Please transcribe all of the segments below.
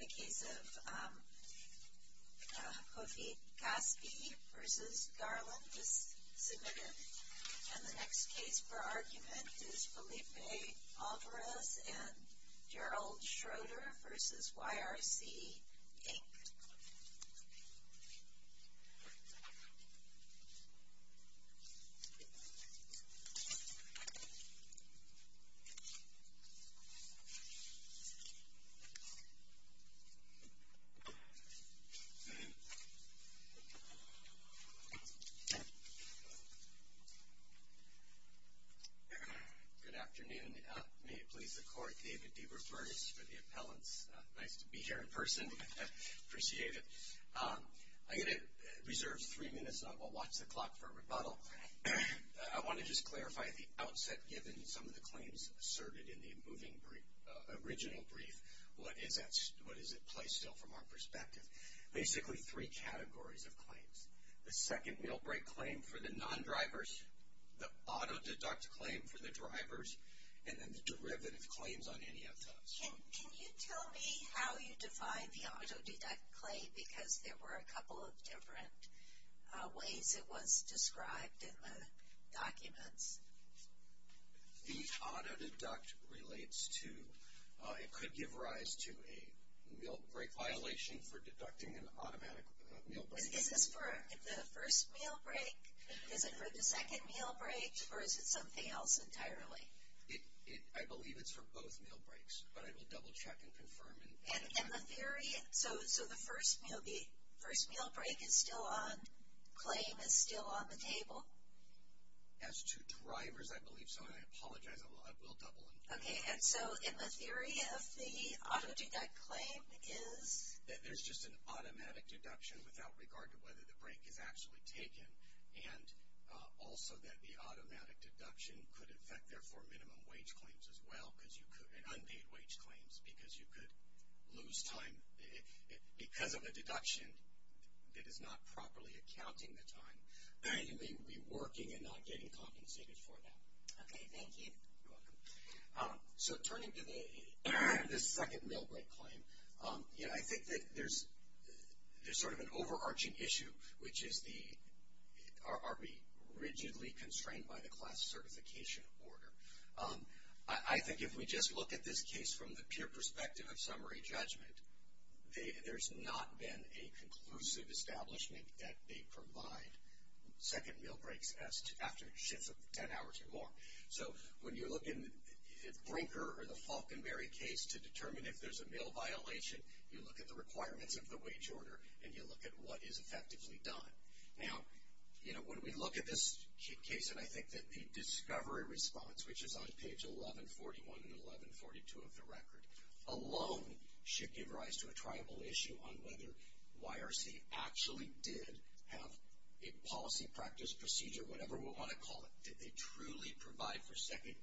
The case of Kofi Gaspi v. Garland is submitted. And the next case for argument is Felipe Alvarez v. Gerald Schroeder v. YRC Inc. Good afternoon. May it please the Court, David DeRufer is for the appellants. Nice to be here in person. Appreciate it. I'm going to reserve three minutes and I will watch the clock for a rebuttal. I want to just clarify at the outset, given some of the claims asserted in the original brief, what is at play still from our perspective? Basically three categories of claims. The second meal break claim for the non-drivers, the auto deduct claim for the drivers, and then the derivative claims on any of those. Can you tell me how you define the auto deduct claim? Because there were a couple of different ways it was described in the documents. The auto deduct relates to, it could give rise to a meal break violation for deducting an automatic meal break. Is this for the first meal break? Is it for the second meal break? Or is it something else entirely? I believe it's for both meal breaks, but I will double check and confirm. So the first meal break claim is still on the table? As to drivers, I believe so. And I apologize, I will double and confirm. Okay. And so in the theory of the auto deduct claim is? There's just an automatic deduction without regard to whether the break is actually taken. And also that the automatic deduction could affect, therefore, minimum wage claims as well, and unpaid wage claims, because you could lose time. Because of a deduction that is not properly accounting the time, you may be working and not getting compensated for that. Okay. Thank you. You're welcome. So turning to the second meal break claim, I think that there's sort of an overarching issue, which is are we rigidly constrained by the class certification order? I think if we just look at this case from the pure perspective of summary judgment, there's not been a conclusive establishment that they provide second meal breaks after shifts of ten hours or more. So when you look at Brinker or the Falconberry case to determine if there's a meal violation, you look at the requirements of the wage order, and you look at what is effectively done. Now, you know, when we look at this case, and I think that the discovery response, which is on page 1141 and 1142 of the record, alone should give rise to a triable issue on whether YRC actually did have a policy, practice, procedure, whatever we want to call it. Did they truly provide for second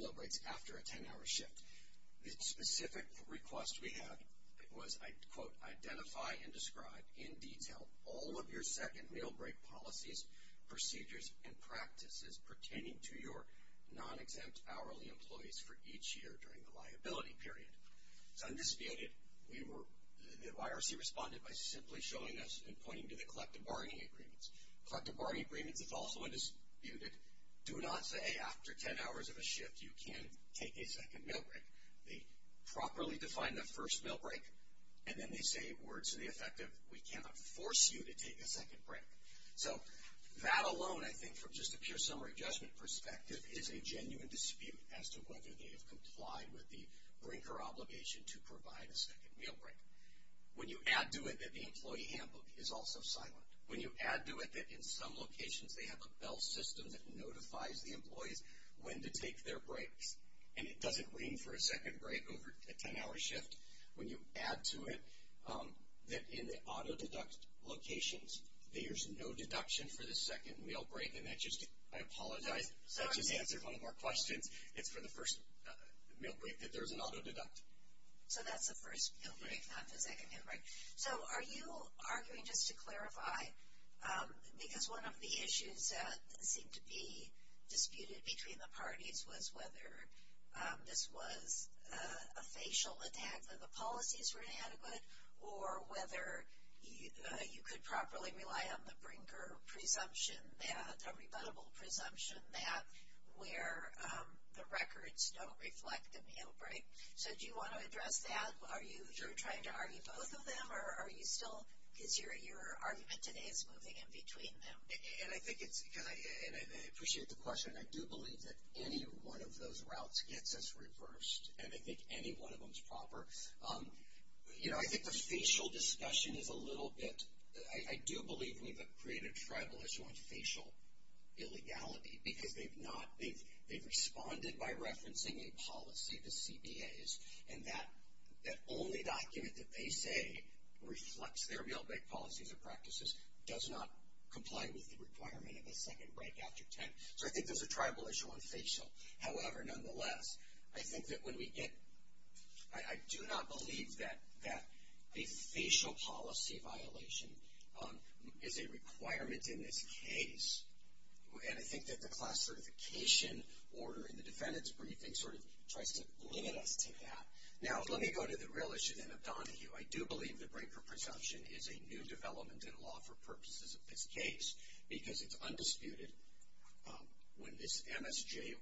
meal breaks after a ten-hour shift? The specific request we have was, I quote, identify and describe in detail all of your second meal break policies, procedures, and practices pertaining to your non-exempt hourly employees for each year during the liability period. It's undisputed. We were, the YRC responded by simply showing us and pointing to the collective bargaining agreements. Collective bargaining agreements is also undisputed. Do not say after ten hours of a shift you can't take a second meal break. They properly define the first meal break, and then they say words to the effect of, we cannot force you to take a second break. So that alone, I think, from just a pure summary judgment perspective, is a genuine dispute as to whether they have complied with the Brinker obligation to provide a second meal break. When you add to it that the employee handbook is also silent, when you add to it that in some locations they have a bell system that notifies the employees when to take their breaks, and it doesn't mean for a second break over a ten-hour shift, when you add to it that in the auto-deduct locations there's no deduction for the second meal break, and that just, I apologize. That just answers one of our questions. It's for the first meal break that there's an auto-deduct. So that's the first meal break, not the second meal break. So are you arguing, just to clarify, because one of the issues that seemed to be disputed between the parties was whether this was a facial attack that the policies were inadequate, or whether you could properly rely on the Brinker presumption that, a rebuttable presumption that, where the records don't reflect the meal break. So do you want to address that? Are you trying to argue both of them, or are you still, because your argument today is moving in between them. And I think it's, and I appreciate the question. I do believe that any one of those routes gets us reversed, and I think any one of them is proper. You know, I think the facial discussion is a little bit, I do believe we've created a tribal issue on facial illegality, because they've responded by referencing a policy to CBAs, and that only document that they say reflects their meal break policies or practices does not comply with the requirement of a second break after 10. So I think there's a tribal issue on facial. However, nonetheless, I think that when we get, I do not believe that a facial policy violation is a requirement in this case. And I think that the class certification order in the defendant's briefing sort of tries to limit us to that. Now, let me go to the real issue then of Donahue. I do believe the Brinker presumption is a new development in law for purposes of this case, because it's undisputed when this MSJ,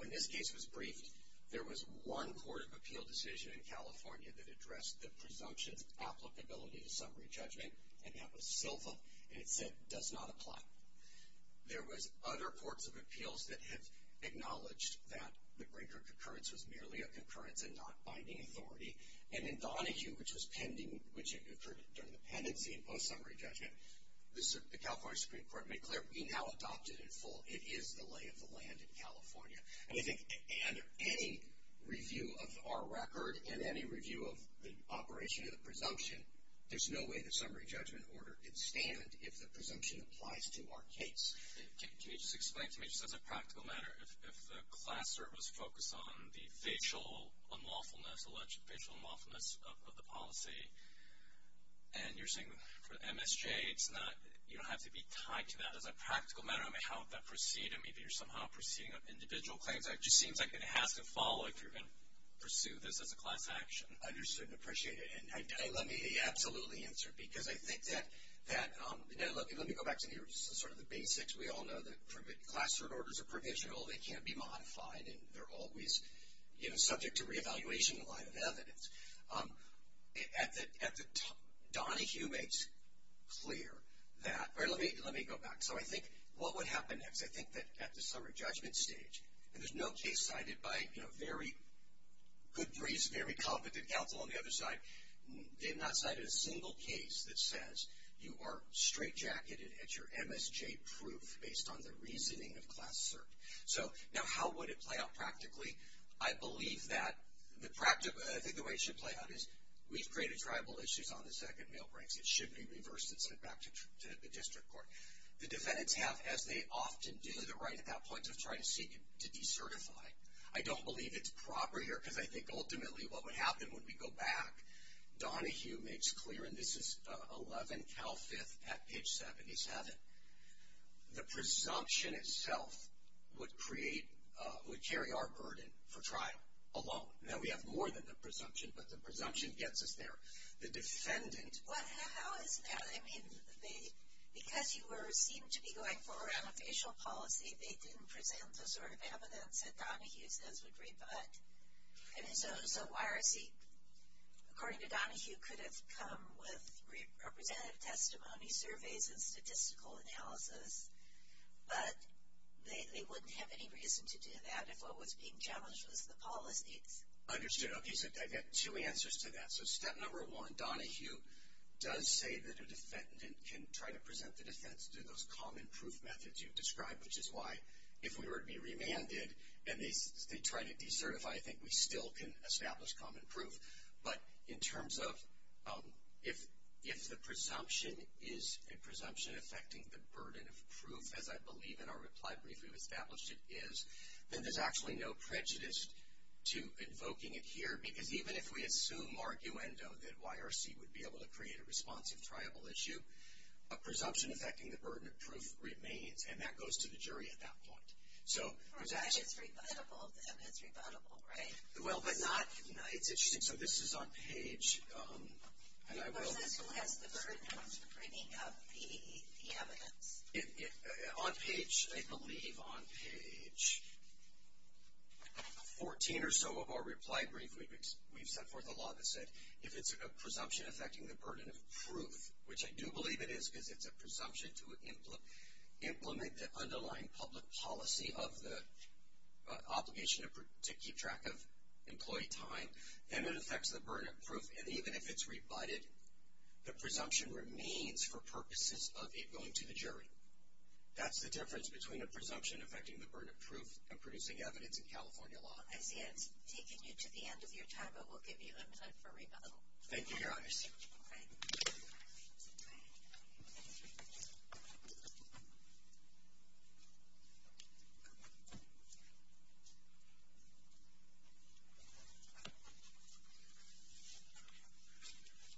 when this case was briefed, there was one court of appeal decision in California that addressed the presumption's applicability to summary judgment, and that was Silva, and it said, does not apply. There was other courts of appeals that have acknowledged that the Brinker concurrence was merely a concurrence and not binding authority. And in Donahue, which was pending, which occurred during the pendency and post-summary judgment, the California Supreme Court made clear, we now adopt it in full. It is the lay of the land in California. And I think any review of our record and any review of the operation of the presumption, there's no way the summary judgment order can stand if the presumption applies to our case. Can you just explain to me, just as a practical matter, if the class service focused on the facial unlawfulness, alleged facial unlawfulness of the policy, and you're saying for MSJ, it's not, you don't have to be tied to that. As a practical matter, I mean, how would that proceed? I mean, you're somehow proceeding on individual claims. It just seems like it has to follow if you're going to pursue this as a class action. I understand and appreciate it. And let me absolutely answer, because I think that, look, let me go back to sort of the basics. We all know that classroom orders are provisional. They can't be modified, and they're always subject to reevaluation in the line of evidence. Donahue makes clear that, or let me go back. So I think what would happen next, I think that at the summary judgment stage, and there's no case cited by, you know, very good briefs, very competent counsel on the other side. They have not cited a single case that says you are straightjacketed at your MSJ proof based on the reasoning of class cert. So now how would it play out practically? I believe that the way it should play out is we've created tribal issues on the second mail breaks. It should be reversed and sent back to the district court. The defendants have, as they often do, the right at that point to try to seek to decertify. I don't believe it's proper here because I think ultimately what would happen when we go back, Donahue makes clear, and this is 11 Cal 5th at page 77, the presumption itself would create, would carry our burden for trial alone. Now we have more than the presumption, but the presumption gets us there. The defendant. Well, how is that? I mean, because you were seen to be going for an official policy, they didn't present the sort of evidence that Donahue says would rebut. I mean, so why is he, according to Donahue, could have come with representative testimony surveys and statistical analysis, but they wouldn't have any reason to do that if what was being challenged was the policy. Understood. Okay, so I get two answers to that. So step number one, Donahue does say that a defendant can try to present the defense through those common proof methods you've described, which is why if we were to be remanded and they try to decertify, I think we still can establish common proof. But in terms of if the presumption is a presumption affecting the burden of proof, as I believe in our reply brief we've established it is, then there's actually no prejudice to invoking it here, because even if we assume arguendo that YRC would be able to create a responsive triable issue, a presumption affecting the burden of proof remains, and that goes to the jury at that point. It's rebuttable, then. It's rebuttable, right? Well, but not, it's interesting. So this is on page, and I will. Yes, the burden of bringing up the evidence. On page, I believe on page 14 or so of our reply brief we've set forth a law that said if it's a presumption affecting the burden of proof, which I do believe it is because it's a presumption to implement the underlying public policy of the obligation to keep track of employee time, then it affects the burden of proof. And even if it's rebutted, the presumption remains for purposes of it going to the jury. That's the difference between a presumption affecting the burden of proof and producing evidence in California law. I see it's taking you to the end of your time, but we'll give you a minute for rebuttal. Thank you, Your Honors. All right.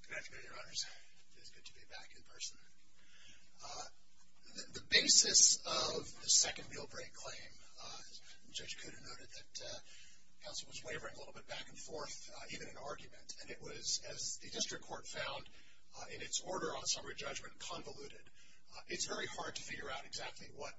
Good afternoon, Your Honors. It is good to be back in person. The basis of the second meal break claim, Judge Kuda noted that counsel was wavering a little bit back and forth, even in argument, and it was, as the district court found in its order on summary judgment, convoluted. It's very hard to figure out exactly what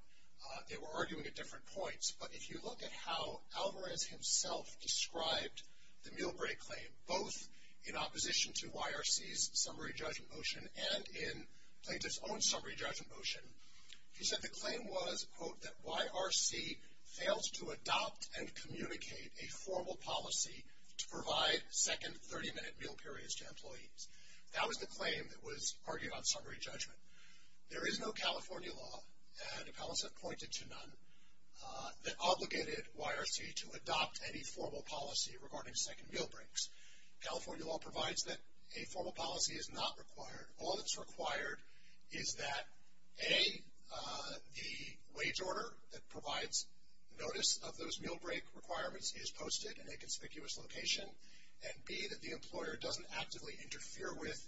they were arguing at different points, but if you look at how Alvarez himself described the meal break claim, both in opposition to YRC's summary judgment motion and in Plaintiff's own summary judgment motion, he said the claim was, quote, that YRC fails to adopt and communicate a formal policy to provide second 30-minute meal periods to employees. That was the claim that was argued on summary judgment. There is no California law, and appellants have pointed to none, that obligated YRC to adopt any formal policy regarding second meal breaks. California law provides that a formal policy is not required. All that's required is that, A, the wage order that provides notice of those meal break requirements is posted in a conspicuous location, and, B, that the employer doesn't actively interfere with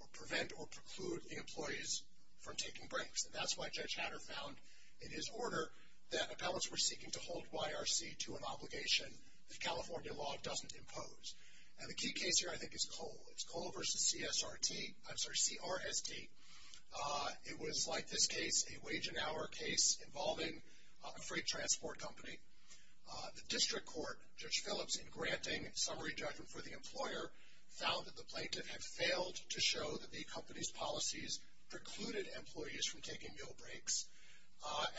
or prevent or preclude the employees from taking breaks. And that's why Judge Hatter found, in his order, that appellants were seeking to hold YRC to an obligation that California law doesn't impose. And the key case here, I think, is Cole. It's Cole v. CRST. It was, like this case, a wage and hour case involving a freight transport company. The district court, Judge Phillips, in granting summary judgment for the employer, found that the plaintiff had failed to show that the company's policies precluded employees from taking meal breaks.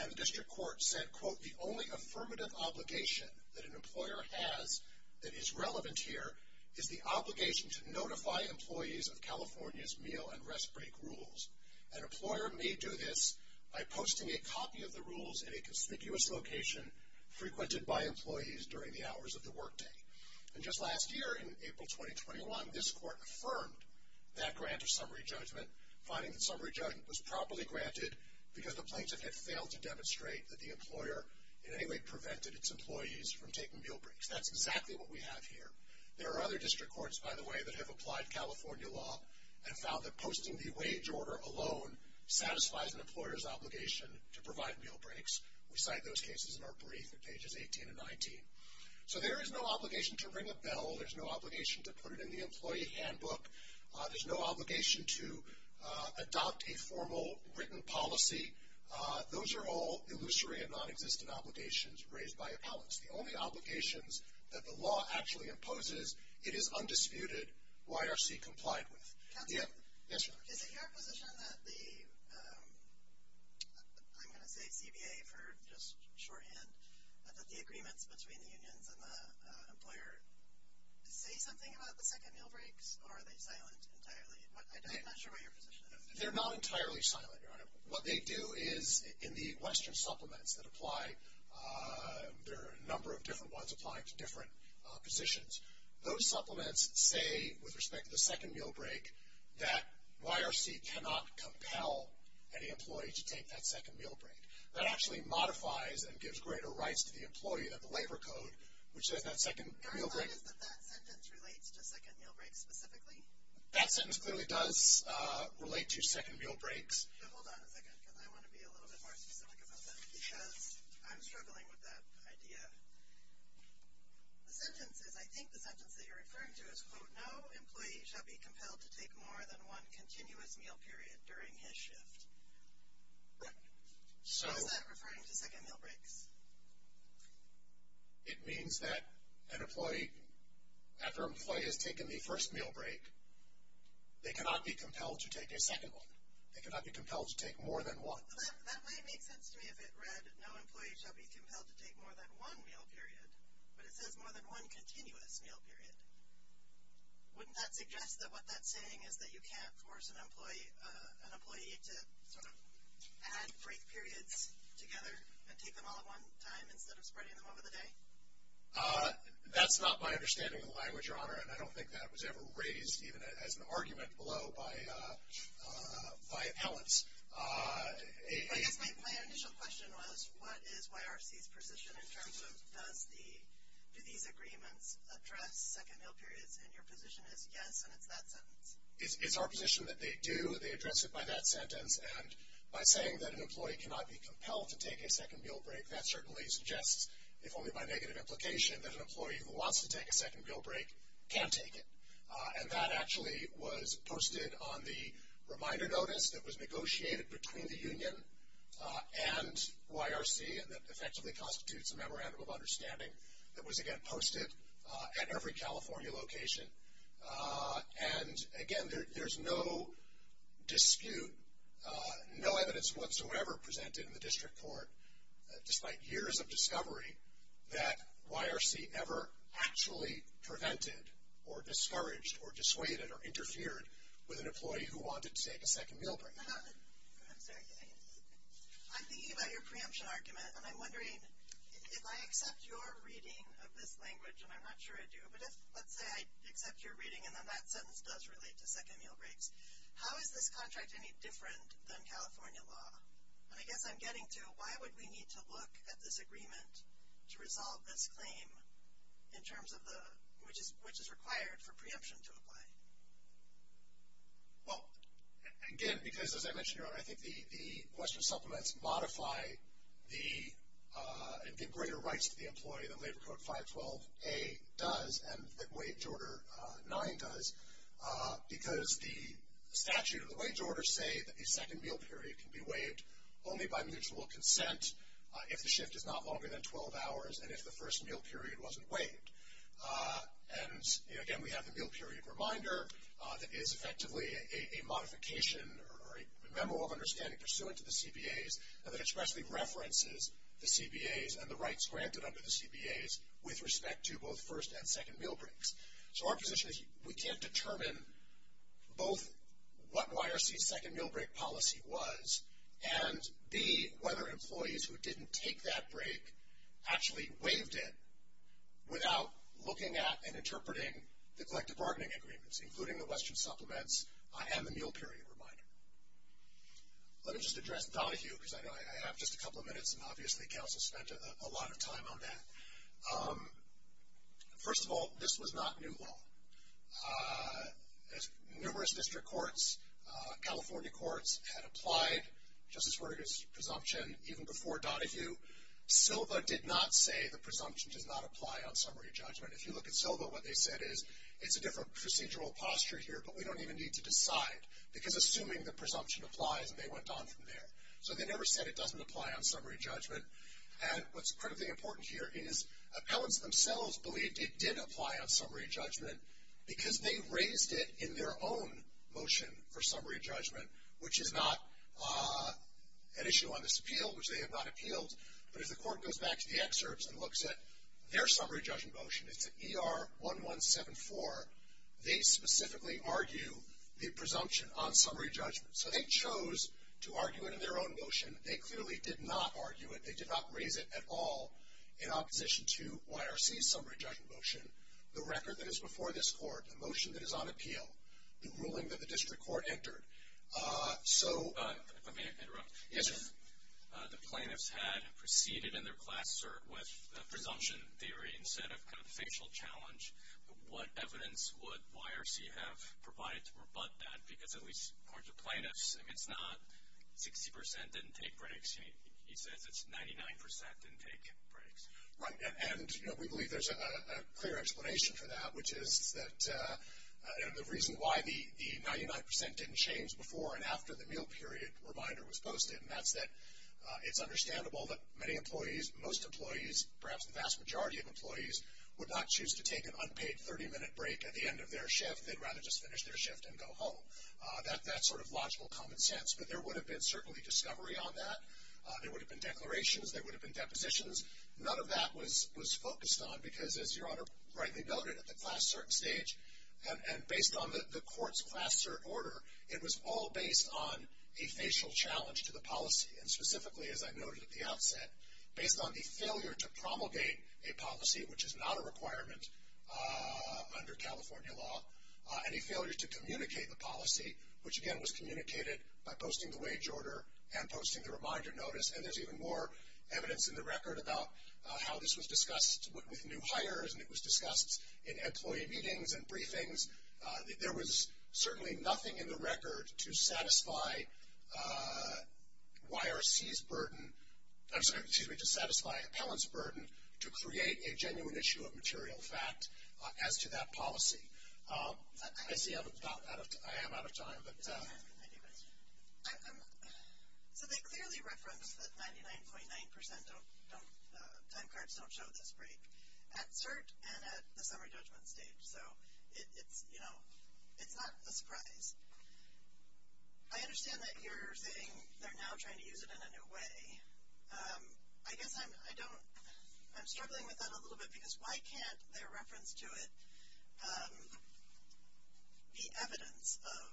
And the district court said, quote, The only affirmative obligation that an employer has that is relevant here is the obligation to notify employees of California's meal and rest break rules. An employer may do this by posting a copy of the rules in a conspicuous location, frequented by employees during the hours of the work day. And just last year, in April 2021, this court affirmed that grant of summary judgment, finding that summary judgment was properly granted because the plaintiff had failed to demonstrate that the employer in any way prevented its employees from taking meal breaks. That's exactly what we have here. There are other district courts, by the way, that have applied California law and found that posting the wage order alone satisfies an employer's obligation to provide meal breaks. We cite those cases in our brief at pages 18 and 19. So there is no obligation to ring a bell. There's no obligation to put it in the employee handbook. There's no obligation to adopt a formal written policy. Those are all illusory and nonexistent obligations raised by a palace. The only obligations that the law actually imposes, it is undisputed, YRC complied with. Yes, Your Honor. Is it your position that the, I'm going to say CBA for just shorthand, that the agreements between the unions and the employer say something about the second meal breaks? Or are they silent entirely? I'm not sure what your position is. They're not entirely silent, Your Honor. What they do is in the Western supplements that apply, there are a number of different ones applying to different positions. Those supplements say, with respect to the second meal break, that YRC cannot compel any employee to take that second meal break. That actually modifies and gives greater rights to the employee than the labor code, which says that second meal break. Your Honor, is that that sentence relates to second meal breaks specifically? That sentence clearly does relate to second meal breaks. But hold on a second because I want to be a little bit more specific about that because I'm struggling with that idea. The sentence is, I think the sentence that you're referring to is, quote, no employee shall be compelled to take more than one continuous meal period during his shift. So is that referring to second meal breaks? It means that an employee, after an employee has taken the first meal break, they cannot be compelled to take a second one. They cannot be compelled to take more than one. Well, that might make sense to me if it read, no employee shall be compelled to take more than one meal period, but it says more than one continuous meal period. Wouldn't that suggest that what that's saying is that you can't force an employee to sort of add break periods together and take them all at one time instead of spreading them over the day? And I don't think that was ever raised even as an argument below by appellants. I guess my initial question was, what is YRC's position in terms of, do these agreements address second meal periods? And your position is, yes, and it's that sentence. It's our position that they do. They address it by that sentence. And by saying that an employee cannot be compelled to take a second meal break, that certainly suggests, if only by negative implication, that an employee who wants to take a second meal break can take it. And that actually was posted on the reminder notice that was negotiated between the union and YRC, and that effectively constitutes a memorandum of understanding that was, again, posted at every California location. And, again, there's no dispute, no evidence whatsoever presented in the district court, despite years of discovery, that YRC ever actually prevented or discouraged or dissuaded or interfered with an employee who wanted to take a second meal break. I'm thinking about your preemption argument, and I'm wondering, if I accept your reading of this language, and I'm not sure I do, but let's say I accept your reading and then that sentence does relate to second meal breaks, how is this contract any different than California law? And I guess I'm getting to why would we need to look at this agreement to resolve this claim in terms of which is required for preemption to apply? Well, again, because, as I mentioned earlier, I think the question supplements modify the greater rights to the employee that Labor Code 512A does and that Wage Order 9 does, because the statute and the wage order say that a second meal period can be waived only by mutual consent if the shift is not longer than 12 hours and if the first meal period wasn't waived. And, again, we have the meal period reminder that is effectively a modification or a memo of understanding pursuant to the CBAs that expressly references the CBAs and the rights granted under the CBAs with respect to both first and second meal breaks. So our position is we can't determine both what YRC's second meal break policy was and B, whether employees who didn't take that break actually waived it without looking at and interpreting the collective bargaining agreements, including the Western supplements and the meal period reminder. Let me just address Donahue because I have just a couple of minutes and obviously Council spent a lot of time on that. First of all, this was not new law. Numerous district courts, California courts, had applied Justice Breyer's presumption even before Donahue. Silva did not say the presumption does not apply on summary judgment. If you look at Silva, what they said is, it's a different procedural posture here, but we don't even need to decide because assuming the presumption applies and they went on from there. So they never said it doesn't apply on summary judgment. And what's incredibly important here is appellants themselves believed it did apply on summary judgment because they raised it in their own motion for summary judgment, which is not an issue on this appeal, which they have not appealed. But as the court goes back to the excerpts and looks at their summary judgment motion, it's an ER-1174, they specifically argue the presumption on summary judgment. So they chose to argue it in their own motion. They clearly did not argue it. They did not raise it at all in opposition to YRC's summary judgment motion, the record that is before this court, the motion that is on appeal, the ruling that the district court entered. So... If I may interrupt. Yes, sir. If the plaintiffs had proceeded in their class cert with a presumption theory instead of kind of a facial challenge, what evidence would YRC have provided to rebut that? Because at least according to plaintiffs, it's not 60% didn't take breaks. He says it's 99% didn't take breaks. Right, and we believe there's a clear explanation for that, which is that the reason why the 99% didn't change before and after the meal period reminder was posted, and that's that it's understandable that many employees, most employees, perhaps the vast majority of employees, would not choose to take an unpaid 30-minute break at the end of their shift. They'd rather just finish their shift and go home. That's sort of logical common sense, but there would have been certainly discovery on that. There would have been declarations. There would have been depositions. None of that was focused on because, as Your Honor rightly noted, at the class cert stage, and based on the court's class cert order, it was all based on a facial challenge to the policy, and specifically, as I noted at the outset, based on the failure to promulgate a policy, which is not a requirement under California law, any failure to communicate the policy, which again was communicated by posting the wage order and posting the reminder notice, and there's even more evidence in the record about how this was discussed with new hires, and it was discussed in employee meetings and briefings. There was certainly nothing in the record to satisfy YRC's burden, excuse me, to satisfy Appellant's burden to create a genuine issue of material fact as to that policy. I see I am out of time, but. So they clearly reference that 99.9% don't, time cards don't show this break at cert and at the summary judgment stage, so it's, you know, it's not a surprise. I understand that you're saying they're now trying to use it in a new way. I guess I'm, I don't, I'm struggling with that a little bit, because why can't their reference to it be evidence of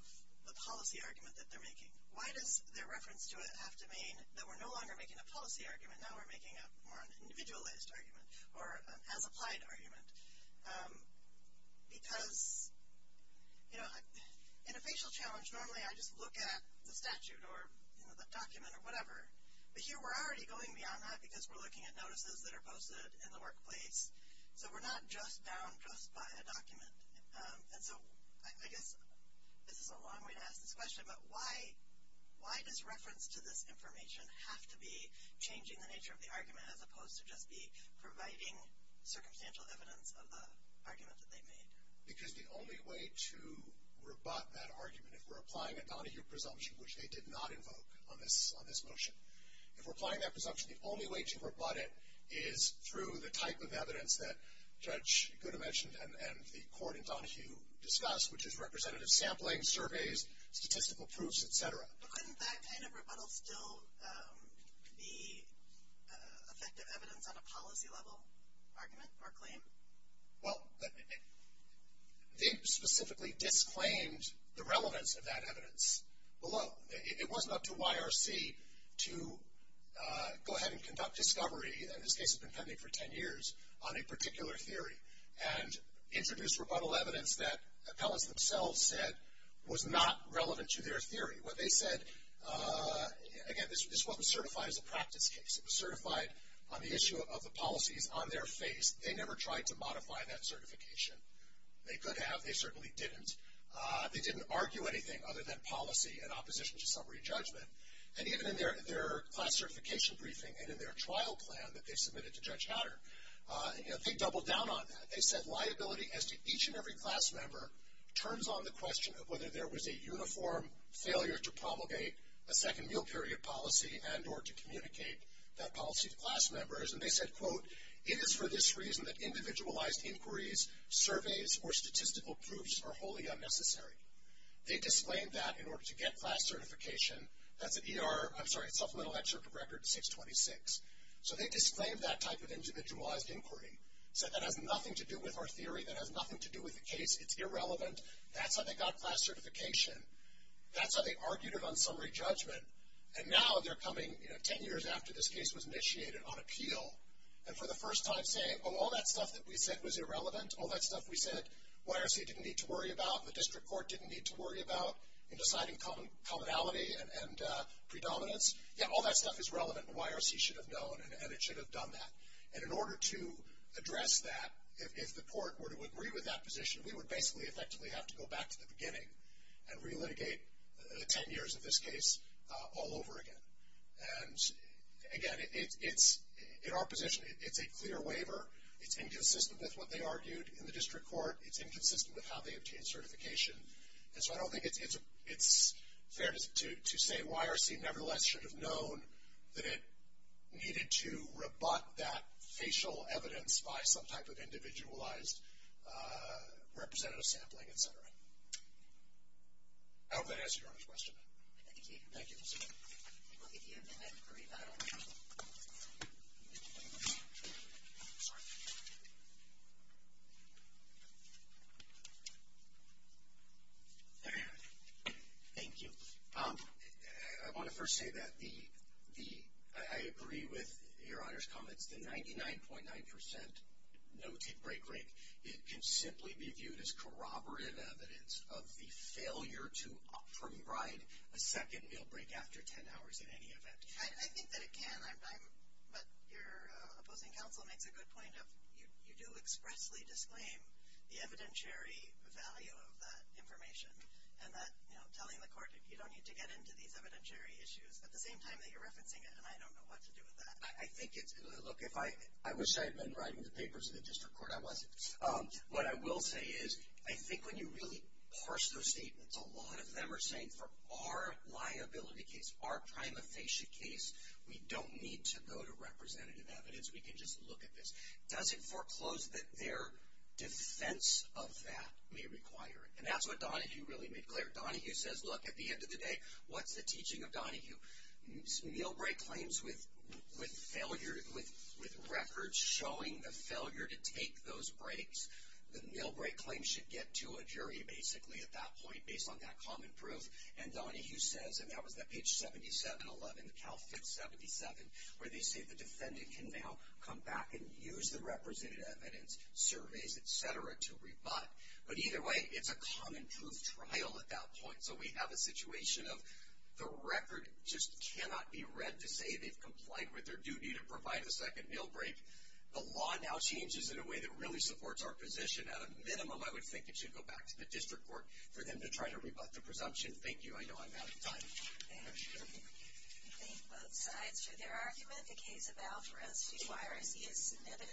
the policy argument that they're making? Why does their reference to it have to mean that we're no longer making a policy argument, now we're making a more individualized argument, or an as-applied argument? Because, you know, in a facial challenge, normally I just look at the statute or the document or whatever, but here we're already going beyond that because we're looking at notices that are posted in the workplace, so we're not just down just by a document. And so I guess this is a long way to ask this question, but why does reference to this information have to be changing the nature of the argument as opposed to just be providing circumstantial evidence of the argument that they made? Because the only way to rebut that argument, if we're applying a Donahue presumption, which they did not invoke on this motion, if we're applying that presumption, the only way to rebut it is through the type of evidence that Judge Gooda mentioned and the court in Donahue discussed, which is representative sampling, surveys, statistical proofs, et cetera. But couldn't that kind of rebuttal still be effective evidence on a policy-level argument or claim? Well, they specifically disclaimed the relevance of that evidence below. It wasn't up to YRC to go ahead and conduct discovery, and this case has been pending for 10 years, on a particular theory, and introduce rebuttal evidence that appellants themselves said was not relevant to their theory. What they said, again, this wasn't certified as a practice case. It was certified on the issue of the policies on their face. They never tried to modify that certification. They could have. They certainly didn't. They didn't argue anything other than policy in opposition to summary judgment. And even in their class certification briefing and in their trial plan that they submitted to Judge Hatter, they doubled down on that. They said liability as to each and every class member turns on the question of whether there was a uniform failure to promulgate a second meal period policy and or to communicate that policy to class members. And they said, quote, it is for this reason that individualized inquiries, surveys, or statistical proofs are wholly unnecessary. They disclaimed that in order to get class certification. That's an ER, I'm sorry, Supplemental Excerpt of Record 626. So they disclaimed that type of individualized inquiry. Said that has nothing to do with our theory. That has nothing to do with the case. It's irrelevant. That's how they got class certification. That's how they argued it on summary judgment. And now they're coming, you know, ten years after this case was initiated on appeal and for the first time saying, oh, all that stuff that we said was irrelevant, all that stuff we said YRC didn't need to worry about, the district court didn't need to worry about in deciding commonality and predominance. Yeah, all that stuff is relevant and YRC should have known and it should have done that. And in order to address that, if the court were to agree with that position, we would basically effectively have to go back to the beginning and re-litigate the ten years of this case all over again. And again, in our position, it's a clear waiver. It's inconsistent with what they argued in the district court. It's inconsistent with how they obtained certification. And so I don't think it's fair to say YRC nevertheless should have known that it needed to rebut that facial evidence by some type of individualized representative sampling, et cetera. I hope that answers your question. Thank you. Thank you. I want to first say that I agree with your Honor's comments. The 99.9% noted break rate, it can simply be viewed as corroborative evidence of the failure to provide a second meal break after ten hours in any event. I think that it can. But your opposing counsel makes a good point of you do expressly disclaim the evidentiary value of that information and that, you know, telling the court you don't need to get into these evidentiary issues at the same time that you're referencing it, and I don't know what to do with that. Look, I wish I had been writing the papers in the district court. I wasn't. What I will say is I think when you really parse those statements, a lot of them are saying for our liability case, our prima facie case, we don't need to go to representative evidence. We can just look at this. Does it foreclose that their defense of that may require it? And that's what Donahue really made clear. Donahue says, look, at the end of the day, what's the teaching of Donahue? Meal break claims with records showing the failure to take those breaks, the meal break claim should get to a jury basically at that point based on that common proof. And Donahue says, and that was that page 7711, the Cal Fit 77, where they say the defendant can now come back and use the representative evidence, surveys, et cetera, to rebut. But either way, it's a common proof trial at that point. So we have a situation of the record just cannot be read to say they've complied with their duty to provide a second meal break. The law now changes in a way that really supports our position. At a minimum, I would think it should go back to the district court for them to try to rebut the presumption. Thank you. I know I'm out of time. Thank you. Thank both sides for their argument. The case of Alvarez's virus is submitted.